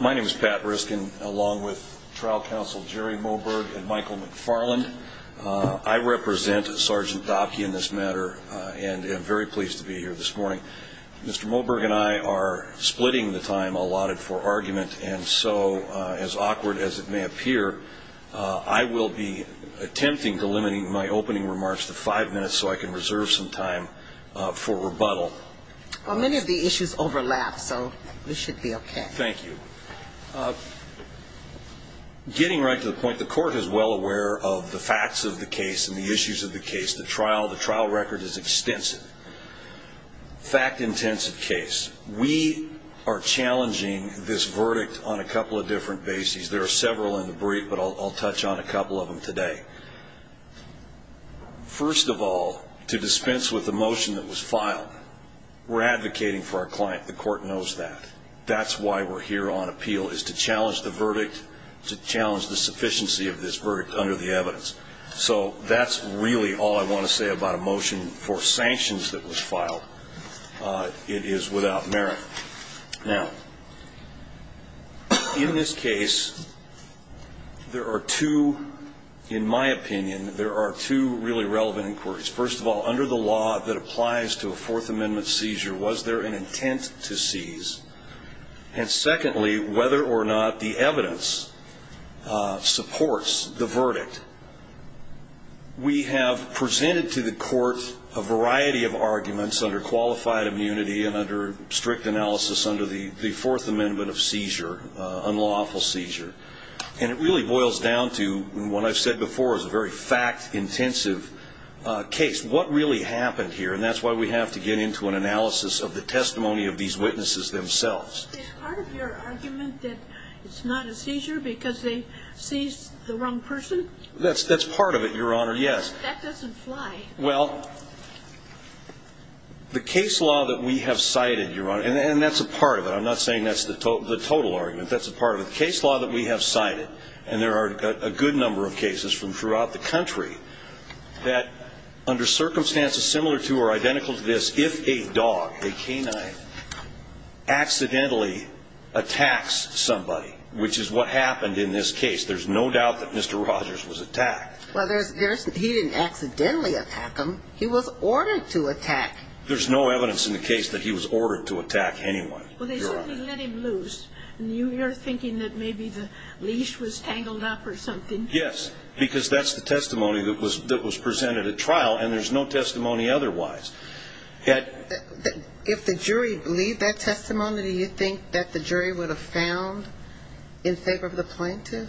My name is Pat Riskin, along with trial counsel Jerry Moberg and Michael McFarland. I represent Sergeant Dopke in this matter and am very pleased to be here this morning. Mr. Moberg and I are splitting the time allotted for argument, and so, as awkward as it may appear, I will be attempting to limit my opening remarks to five minutes so I can reserve some time for rebuttal. Well, many of the issues overlap, so this should be okay. Thank you. Getting right to the point, the court is well aware of the facts of the case and the issues of the case. The trial record is extensive, fact-intensive case. We are challenging this verdict on a couple of different bases. There are several in the brief, but I'll touch on a couple of them today. First of all, to dispense with the motion that was filed, we're advocating for our client. The court knows that. That's why we're here on appeal, is to challenge the verdict, to challenge the sufficiency of this verdict under the evidence. So that's really all I want to say about a motion for sanctions that was filed. It is without merit. Now, in this case, there are two, in my opinion, there are two really relevant inquiries. First of all, under the law that applies to a Fourth Amendment seizure, was there an intent to seize? And secondly, whether or not the evidence supports the verdict. We have presented to the court a variety of arguments under qualified immunity and under strict analysis under the Fourth Amendment of seizure, unlawful seizure. And it really boils down to what I've said before is a very fact-intensive case. What really happened here? And that's why we have to get into an analysis of the testimony of these witnesses themselves. Is part of your argument that it's not a seizure because they seized the wrong person? That's part of it, Your Honor, yes. That doesn't fly. Well, the case law that we have cited, Your Honor, and that's a part of it. I'm not saying that's the total argument. That's a part of it. The case law that we have cited, and there are a good number of cases from throughout the country, that under circumstances similar to or identical to this, if a dog, a canine, accidentally attacks somebody, which is what happened in this case, there's no doubt that Mr. Rogers was attacked. Well, he didn't accidentally attack him. He was ordered to attack. There's no evidence in the case that he was ordered to attack anyone. Well, they certainly let him loose. And you're thinking that maybe the leash was tangled up or something. Yes, because that's the testimony that was presented at trial, and there's no testimony otherwise. If the jury believed that testimony, do you think that the jury would have found in favor of the plaintiff?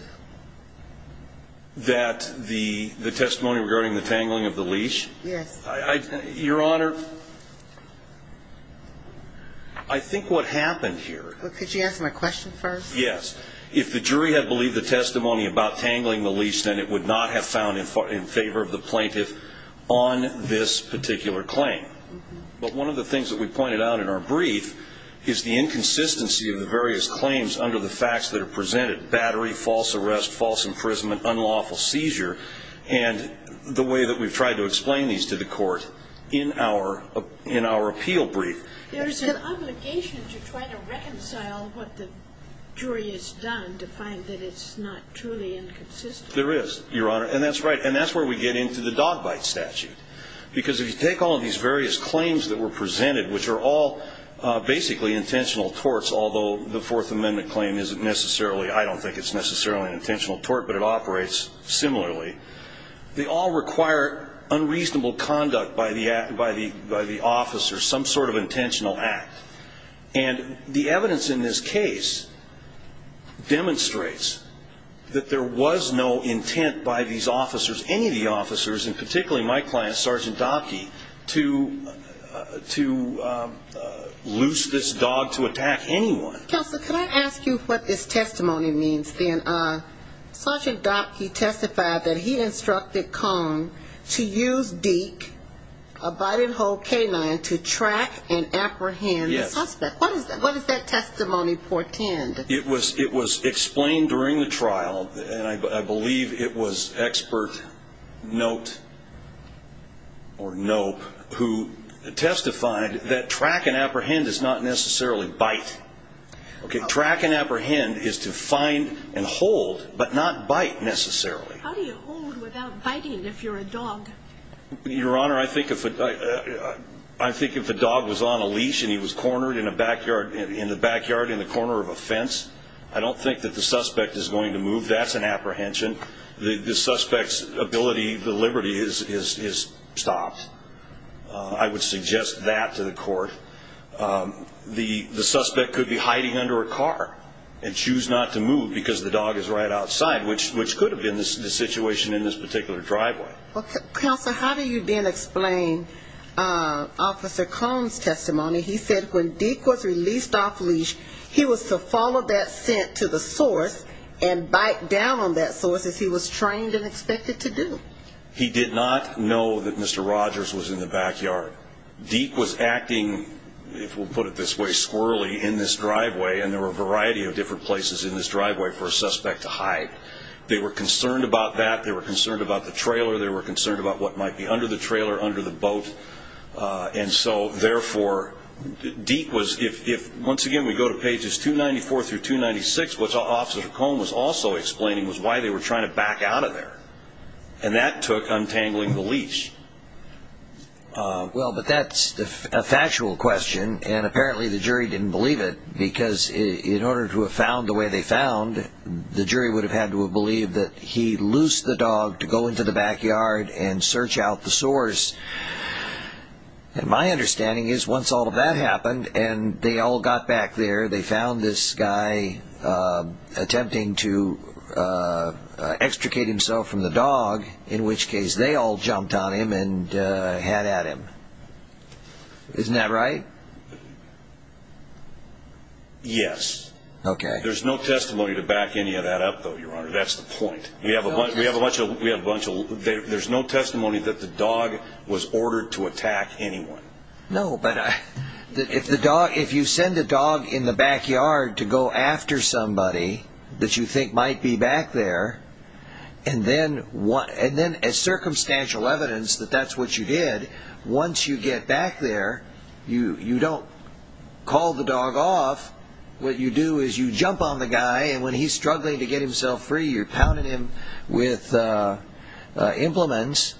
That the testimony regarding the tangling of the leash? Yes. Your Honor, I think what happened here. Could you answer my question first? Yes. If the jury had believed the testimony about tangling the leash, then it would not have found in favor of the plaintiff on this particular claim. But one of the things that we pointed out in our brief is the inconsistency of the various claims under the facts that are presented, battery, false arrest, false imprisonment, unlawful seizure, and the way that we've tried to explain these to the court in our appeal brief. There's an obligation to try to reconcile what the jury has done to find that it's not truly inconsistent. There is, Your Honor. And that's right. And that's where we get into the dog bite statute. Because if you take all of these various claims that were presented, which are all basically intentional torts, although the Fourth Amendment claim isn't necessarily, I don't think it's necessarily an intentional tort, but it operates similarly, they all require unreasonable conduct by the officers, some sort of intentional act. And the evidence in this case demonstrates that there was no intent by these officers, any of the officers, and particularly my client, Sergeant Dopke, to loose this dog to attack anyone. Counselor, could I ask you what this testimony means, then? Sergeant Dopke testified that he instructed Cone to use Deke, a biting hole canine, to track and apprehend the suspect. Yes. What does that testimony portend? It was explained during the trial, and I believe it was Expert Note, or Nope, who testified that track and apprehend is not necessarily bite. Okay, track and apprehend is to find and hold, but not bite, necessarily. How do you hold without biting if you're a dog? Your Honor, I think if a dog was on a leash and he was cornered in the backyard in the corner of a fence, I don't think that the suspect is going to move. That's an apprehension. The suspect's ability, the liberty, is stopped. I would suggest that to the court. The suspect could be hiding under a car and choose not to move because the dog is right outside, which could have been the situation in this particular driveway. Counselor, how do you then explain Officer Cone's testimony? He said when Deke was released off leash, he was to follow that scent to the source and bite down on that source as he was trained and expected to do. He did not know that Mr. Rogers was in the backyard. Deke was acting, if we'll put it this way, squirrely in this driveway, and there were a variety of different places in this driveway for a suspect to hide. They were concerned about that. They were concerned about the trailer. They were concerned about what might be under the trailer, under the boat. And so, therefore, Deke was – once again, we go to pages 294 through 296, which Officer Cone was also explaining was why they were trying to back out of there, and that took untangling the leash. Well, but that's a factual question, and apparently the jury didn't believe it because in order to have found the way they found, the jury would have had to have believed that he loosed the dog to go into the backyard and search out the source. And my understanding is once all of that happened and they all got back there, they found this guy attempting to extricate himself from the dog, in which case they all jumped on him and had at him. Isn't that right? Yes. Okay. There's no testimony to back any of that up, though, Your Honor. That's the point. We have a bunch of – there's no testimony that the dog was ordered to attack anyone. No, but if you send a dog in the backyard to go after somebody that you think might be back there, and then as circumstantial evidence that that's what you did, once you get back there, you don't call the dog off. What you do is you jump on the guy, and when he's struggling to get himself free, you're pounding him with implements.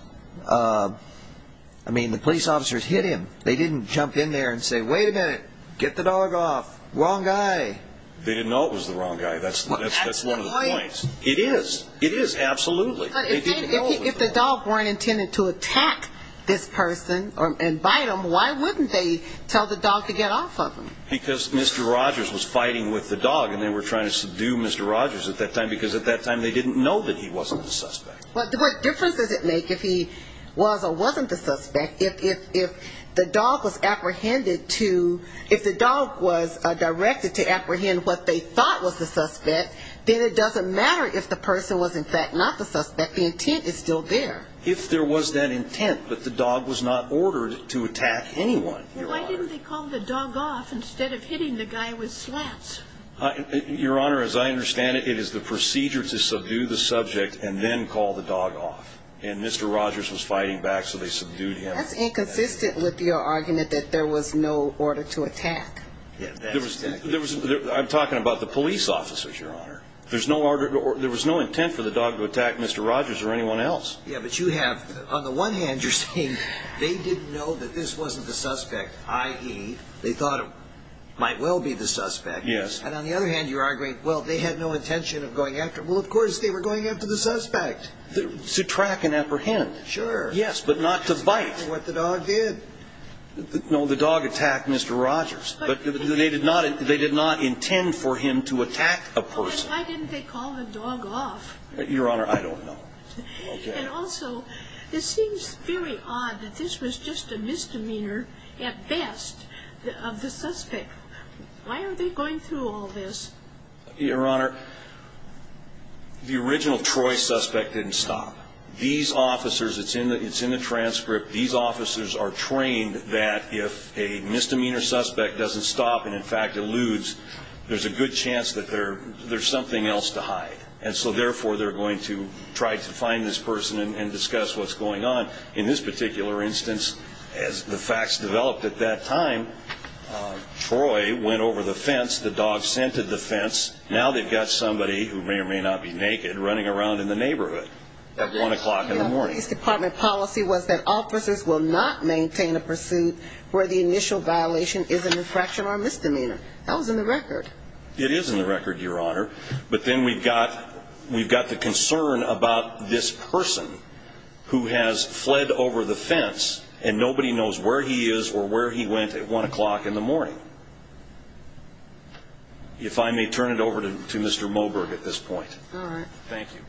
I mean, the police officers hit him. They didn't jump in there and say, wait a minute, get the dog off, wrong guy. They didn't know it was the wrong guy. That's one of the points. It is. It is, absolutely. But if the dog weren't intended to attack this person and bite him, why wouldn't they tell the dog to get off of him? Because Mr. Rogers was fighting with the dog, and they were trying to subdue Mr. Rogers at that time, because at that time they didn't know that he wasn't the suspect. But what difference does it make if he was or wasn't the suspect? If the dog was apprehended to – if the dog was directed to apprehend what they thought was the suspect, then it doesn't matter if the person was in fact not the suspect. The intent is still there. If there was that intent, but the dog was not ordered to attack anyone. Why didn't they call the dog off instead of hitting the guy with slats? Your Honor, as I understand it, it is the procedure to subdue the subject and then call the dog off. And Mr. Rogers was fighting back, so they subdued him. That's inconsistent with your argument that there was no order to attack. I'm talking about the police officers, Your Honor. There was no intent for the dog to attack Mr. Rogers or anyone else. Yeah, but you have – on the one hand, you're saying they didn't know that this wasn't the suspect, i.e., they thought it might well be the suspect. Yes. And on the other hand, you're arguing, well, they had no intention of going after – well, of course they were going after the suspect. To track and apprehend. Sure. Yes, but not to bite. What the dog did. No, the dog attacked Mr. Rogers. But they did not – they did not intend for him to attack a person. Well, then why didn't they call the dog off? Your Honor, I don't know. Okay. And also, it seems very odd that this was just a misdemeanor at best of the suspect. Why aren't they going through all this? Your Honor, the original Troy suspect didn't stop. These officers – it's in the transcript. These officers are trained that if a misdemeanor suspect doesn't stop and, in fact, eludes, there's a good chance that there's something else to hide. And so, therefore, they're going to try to find this person and discuss what's going on. In this particular instance, as the facts developed at that time, Troy went over the fence, the dog scented the fence, now they've got somebody who may or may not be naked running around in the neighborhood at 1 o'clock in the morning. The police department policy was that officers will not maintain a pursuit where the initial violation is an infraction or misdemeanor. That was in the record. It is in the record, Your Honor. But then we've got the concern about this person who has fled over the fence and nobody knows where he is or where he went at 1 o'clock in the morning. If I may turn it over to Mr. Moberg at this point. All right. Thank you.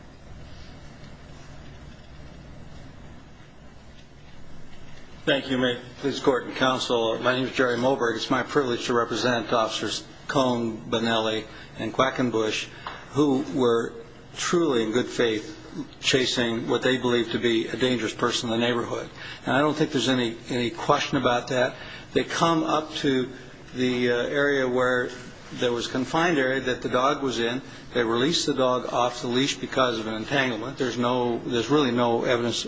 Thank you. Please court and counsel, my name is Jerry Moberg. It's my privilege to represent Officers Cone, Bonelli, and Quackenbush, who were truly in good faith chasing what they believed to be a dangerous person in the neighborhood. And I don't think there's any question about that. They come up to the area where there was a confined area that the dog was in. They release the dog off the leash because of an entanglement. There's really no evidence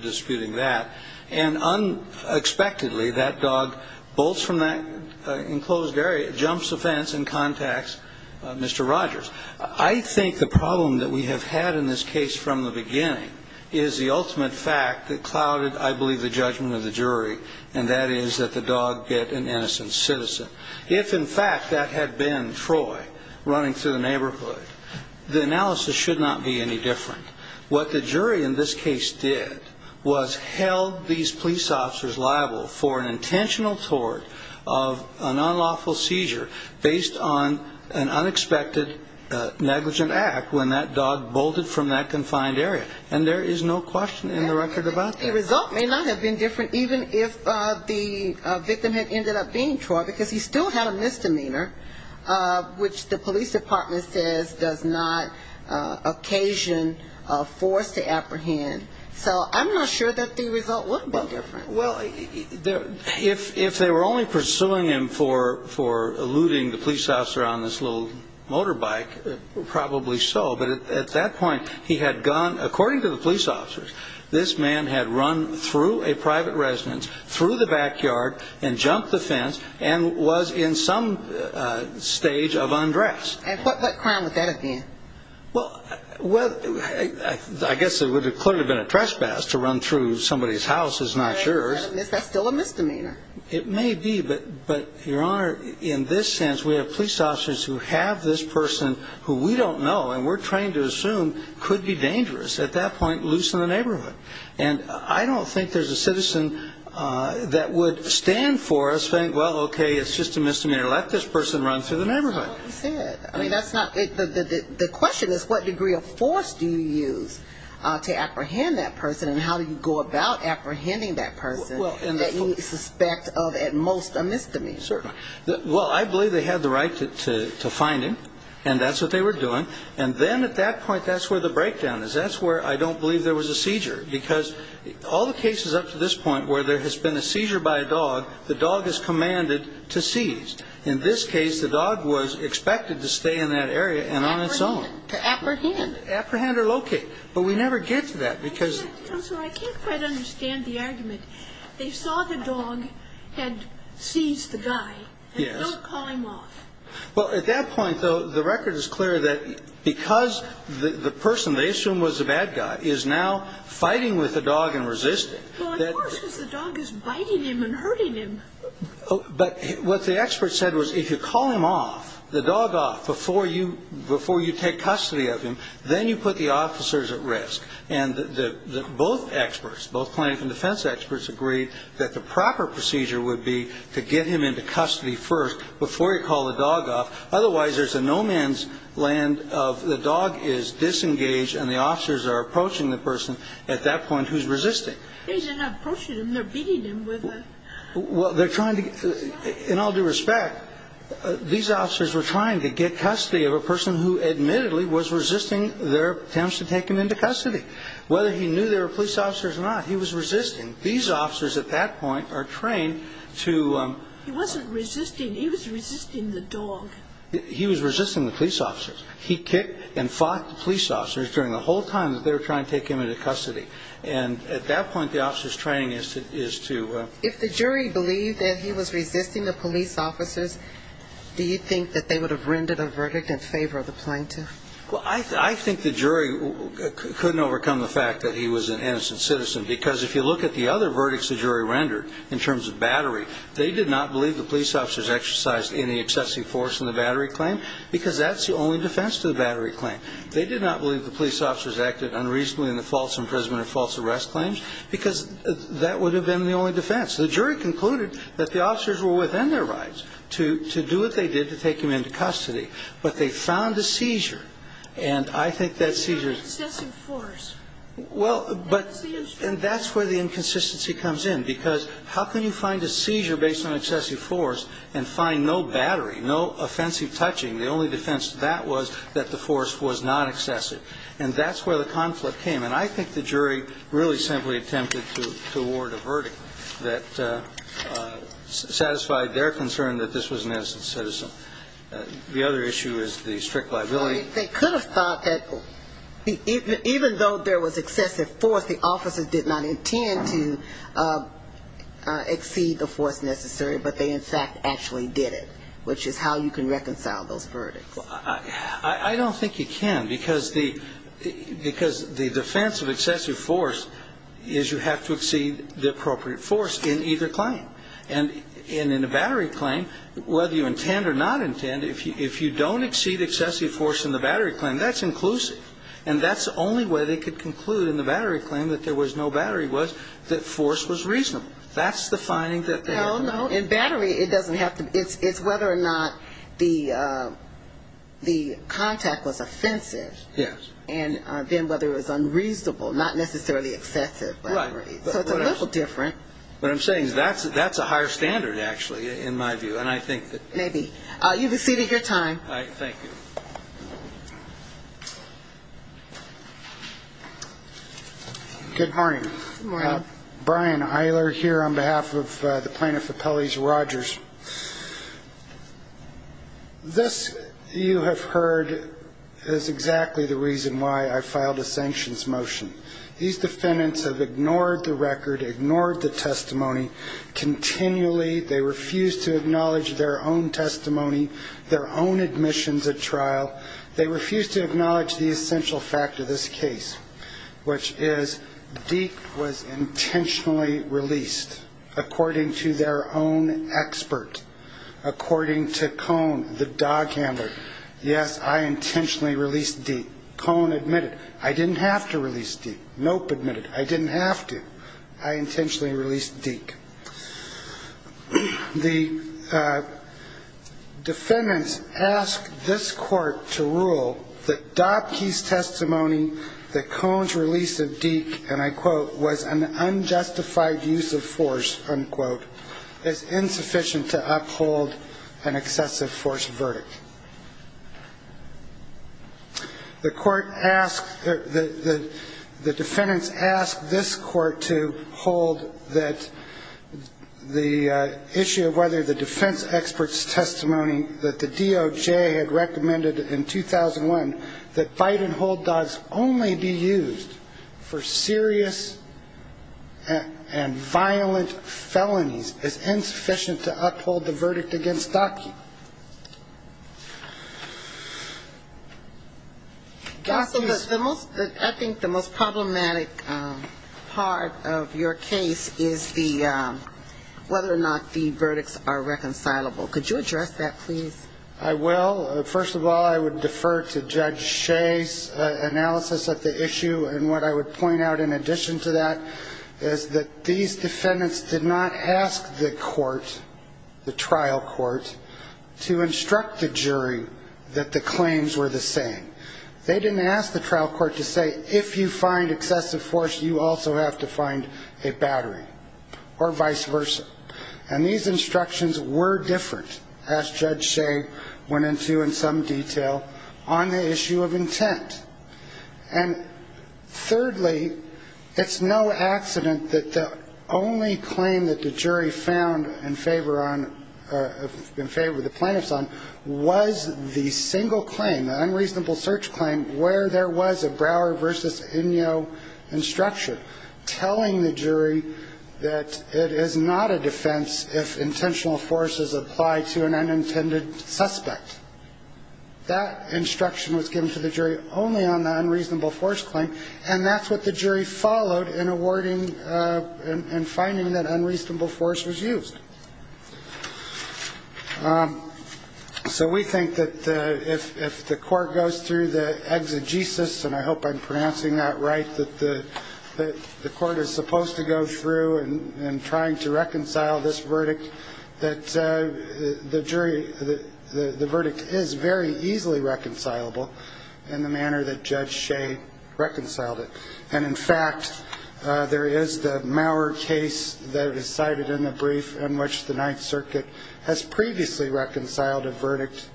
disputing that. And unexpectedly, that dog bolts from that enclosed area, jumps the fence, and contacts Mr. Rogers. I think the problem that we have had in this case from the beginning is the ultimate fact that clouded, I believe, the judgment of the jury, and that is that the dog get an innocent citizen. If, in fact, that had been Troy running through the neighborhood, the analysis should not be any different. What the jury in this case did was held these police officers liable for an intentional tort of an unlawful seizure based on an unexpected negligent act when that dog bolted from that confined area. And there is no question in the record about that. The result may not have been different even if the victim had ended up being Troy because he still had a misdemeanor, which the police department says does not occasion a force to apprehend. So I'm not sure that the result would have been different. Well, if they were only pursuing him for looting the police officer on this little motorbike, probably so. But at that point, he had gone, according to the police officers, this man had run through a private residence, through the backyard, and jumped the fence, and was in some stage of undress. And what crime would that have been? Well, I guess it would have clearly been a trespass to run through somebody's house is not sure. That's still a misdemeanor. It may be. But, Your Honor, in this sense, we have police officers who have this person who we don't know and we're trained to assume could be dangerous at that point loose in the neighborhood. And I don't think there's a citizen that would stand for us saying, well, okay, it's just a misdemeanor. Let this person run through the neighborhood. Well, you said. I mean, that's not the question is what degree of force do you use to apprehend that person and how do you go about apprehending that person that you suspect of at most a misdemeanor? Certainly. Well, I believe they had the right to find him, and that's what they were doing. And then at that point, that's where the breakdown is. That's where I don't believe there was a seizure, because all the cases up to this point where there has been a seizure by a dog, the dog is commanded to seize. In this case, the dog was expected to stay in that area and on its own. To apprehend. To apprehend or locate. But we never get to that because. Counselor, I can't quite understand the argument. They saw the dog and seized the guy. Yes. And don't call him off. Well, at that point, though, the record is clear that because the person they assume was a bad guy is now fighting with the dog and resisting. Well, of course, because the dog is biting him and hurting him. But what the expert said was if you call him off, the dog off, before you take custody of him, then you put the officers at risk. And both experts, both plaintiff and defense experts, agreed that the proper procedure would be to get him into custody first before you call the dog off. Otherwise, there's a no-man's land of the dog is disengaged and the officers are approaching the person at that point who's resisting. They're not approaching him. They're beating him with a... Well, they're trying to... In all due respect, these officers were trying to get custody of a person who admittedly was resisting their attempts to take him into custody. Whether he knew there were police officers or not, he was resisting. These officers at that point are trained to... He wasn't resisting. He was resisting the dog. He was resisting the police officers. He kicked and fought the police officers during the whole time that they were trying to take him into custody. And at that point, the officers' training is to... If the jury believed that he was resisting the police officers, do you think that they would have rendered a verdict in favor of the plaintiff? Well, I think the jury couldn't overcome the fact that he was an innocent citizen because if you look at the other verdicts the jury rendered in terms of battery, they did not believe the police officers exercised any excessive force in the battery claim because that's the only defense to the battery claim. They did not believe the police officers acted unreasonably in the false imprisonment or false arrest claims because that would have been the only defense. The jury concluded that the officers were within their rights to do what they did to take him into custody, but they found a seizure, and I think that seizure... An excessive force. Well, but... And that's where the inconsistency comes in because how can you find a seizure based on excessive force and find no battery, no offensive touching? The only defense to that was that the force was not excessive. And that's where the conflict came. And I think the jury really simply attempted to award a verdict that satisfied their concern that this was an innocent citizen. The other issue is the strict liability. They could have thought that even though there was excessive force, the officers did not intend to exceed the force necessary, but they in fact actually did it, which is how you can reconcile those verdicts. I don't think you can because the defense of excessive force is you have to exceed the appropriate force in either claim. And in a battery claim, whether you intend or not intend, if you don't exceed excessive force in the battery claim, that's inclusive. And that's the only way they could conclude in the battery claim that there was no battery was that force was reasonable. That's the finding that they have. No, no, in battery, it doesn't have to be... It's whether or not the contact was offensive. Yes. And then whether it was unreasonable, not necessarily excessive. Right. So it's a little different. What I'm saying is that's a higher standard, actually, in my view. And I think that... Maybe. You've exceeded your time. All right. Thank you. Good morning. Good morning. Brian Eiler here on behalf of the Plaintiff Appellees Rogers. This, you have heard, is exactly the reason why I filed a sanctions motion. These defendants have ignored the record, ignored the testimony continually. They refuse to acknowledge their own testimony, their own admissions at trial. They refuse to acknowledge the essential fact of this case, which is Deke was intentionally released according to their own expert, according to Cohn, the dog handler. Yes, I intentionally released Deke. Cohn admitted I didn't have to release Deke. Knope admitted I didn't have to. I intentionally released Deke. The defendants ask this court to rule that Dobke's testimony that Cohn's release of Deke, and I quote, was an unjustified use of force, unquote, is insufficient to uphold an excessive force verdict. The court asks, the defendants ask this court to hold that the issue of whether the defense expert's testimony that the DOJ had recommended in 2001 that bite-and-hold dogs only be used for serious and violent felonies is insufficient to uphold the verdict against Dobke. Counsel, I think the most problematic part of your case is whether or not the verdicts are reconcilable. Could you address that, please? I will. First of all, I would defer to Judge Shea's analysis of the issue, and what I would point out in addition to that is that these defendants did not ask the court, the trial court, to instruct the jury that the claims were the same. They didn't ask the trial court to say, if you find excessive force, you also have to find a battery, or vice versa. And these instructions were different, as Judge Shea went into in some detail, on the issue of intent. And thirdly, it's no accident that the only claim that the jury found in favor of the plaintiffs on was the single claim, the unreasonable search claim, where there was a Brower v. Inyo instruction, telling the jury that it is not a defense if intentional force is applied to an unintended suspect. That instruction was given to the jury only on the unreasonable force claim, and that's what the jury followed in awarding and finding that unreasonable force was used. So we think that if the court goes through the exegesis, and I hope I'm pronouncing that right, that the court is supposed to go through in trying to reconcile this verdict, that the jury, the verdict is very easily reconcilable in the manner that Judge Shea reconciled it. And in fact, there is the Maurer case that is cited in the brief in which the Ninth Circuit has previously reconciled a verdict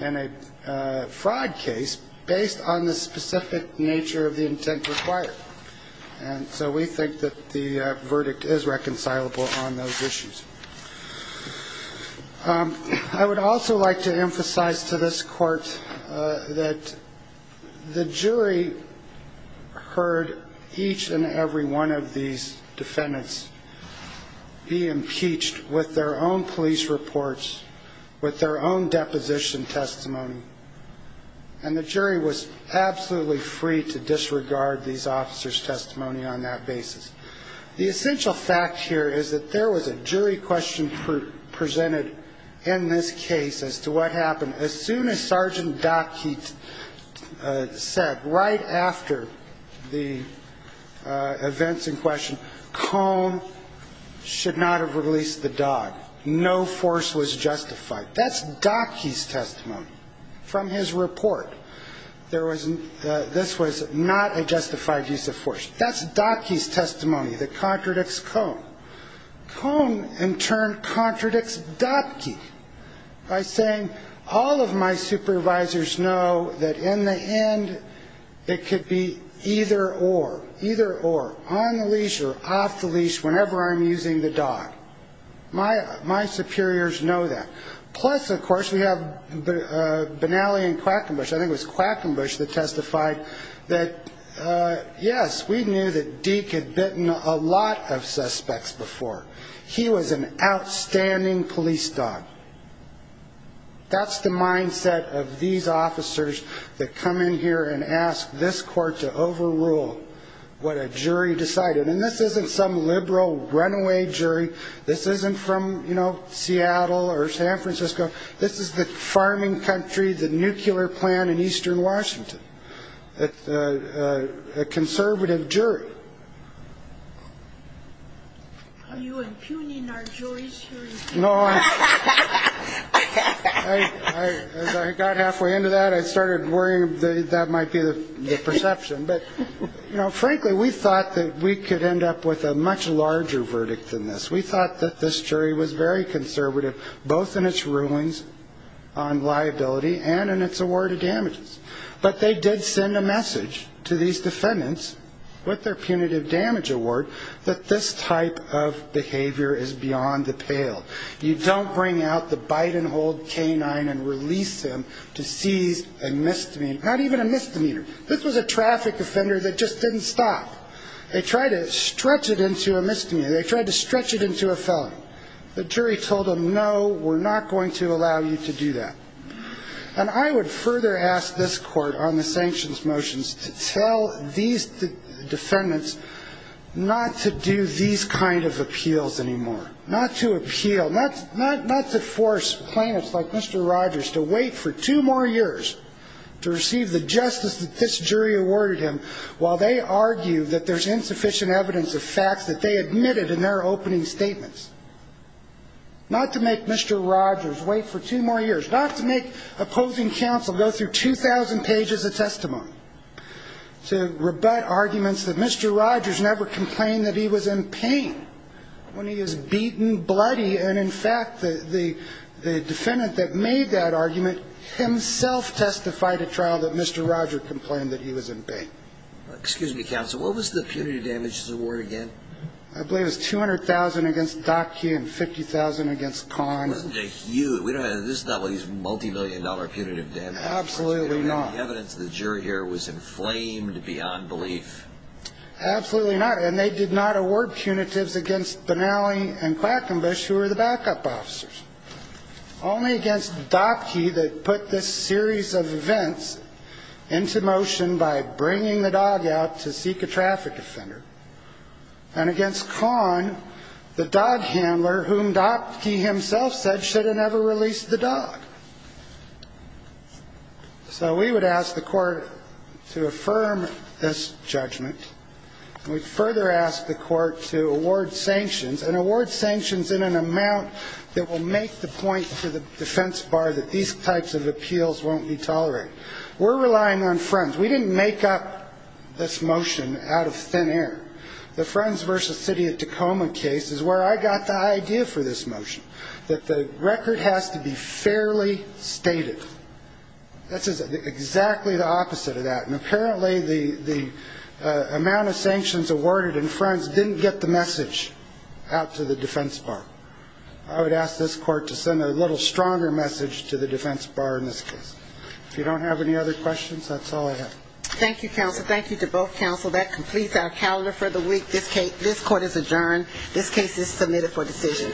in a fraud case based on the specific nature of the intent required. And so we think that the verdict is reconcilable on those issues. I would also like to emphasize to this court that the jury heard each and every one of these defendants be impeached with their own police reports, with their own deposition testimony, and the jury was absolutely free to disregard these officers' testimony on that basis. The essential fact here is that there was a jury question presented in this case as to what happened. As soon as Sergeant Dottke said right after the events in question, Cone should not have released the dog. No force was justified. That's Dottke's testimony. From his report, this was not a justified use of force. That's Dottke's testimony that contradicts Cone. Cone, in turn, contradicts Dottke by saying, all of my supervisors know that in the end it could be either or, either or, on the leash or off the leash whenever I'm using the dog. My superiors know that. Plus, of course, we have Benally and Quackenbush, I think it was Quackenbush that testified that, yes, we knew that Deke had bitten a lot of suspects before. He was an outstanding police dog. That's the mindset of these officers that come in here and ask this court to overrule what a jury decided. And this isn't some liberal runaway jury. This isn't from Seattle or San Francisco. This is the farming country, the nuclear plant in eastern Washington, a conservative jury. Are you impugning our juries here? As I got halfway into that, I started worrying that that might be the perception. But, you know, frankly, we thought that we could end up with a much larger verdict than this. We thought that this jury was very conservative, both in its rulings on liability and in its award of damages. But they did send a message to these defendants with their punitive damage award that this type of behavior is beyond the pale. You don't bring out the bite-and-hold canine and release him to seize a misdemeanor, not even a misdemeanor. This was a traffic offender that just didn't stop. They tried to stretch it into a misdemeanor. They tried to stretch it into a felony. The jury told them, no, we're not going to allow you to do that. And I would further ask this court on the sanctions motions to tell these defendants not to do these kind of appeals anymore, not to appeal, not to force plaintiffs like Mr. Rogers to wait for two more years to receive the justice that they deserve. Not to make Mr. Rogers wait for two more years, not to make opposing counsel go through 2,000 pages of testimony, to rebut arguments that Mr. Rogers never complained that he was in pain when he was beaten, bloody. And, in fact, the defendant that made that argument himself testified at trial that Mr. Rogers complained. And I would further ask this court on the sanctions motions to tell these defendants not to do these kind of appeals anymore, not to appeal, not to force plaintiffs like Mr. Rogers to wait for two more years to receive the justice that they deserve. And I would further ask this court on the sanctions motions to tell these defendants not to do these kind of appeals anymore, not to force plaintiffs like Mr. Rogers to wait for two more years to receive the justice that they deserve. And I would further ask this court on the sanctions motions to tell these defendants not to do these kind of appeals anymore, not to force plaintiffs like Mr. Rogers to wait for two more years to receive the justice that they deserve. Thank you, counsel. Thank you to both counsel. That completes our calendar for the week. This court is adjourned. This case is submitted for decision.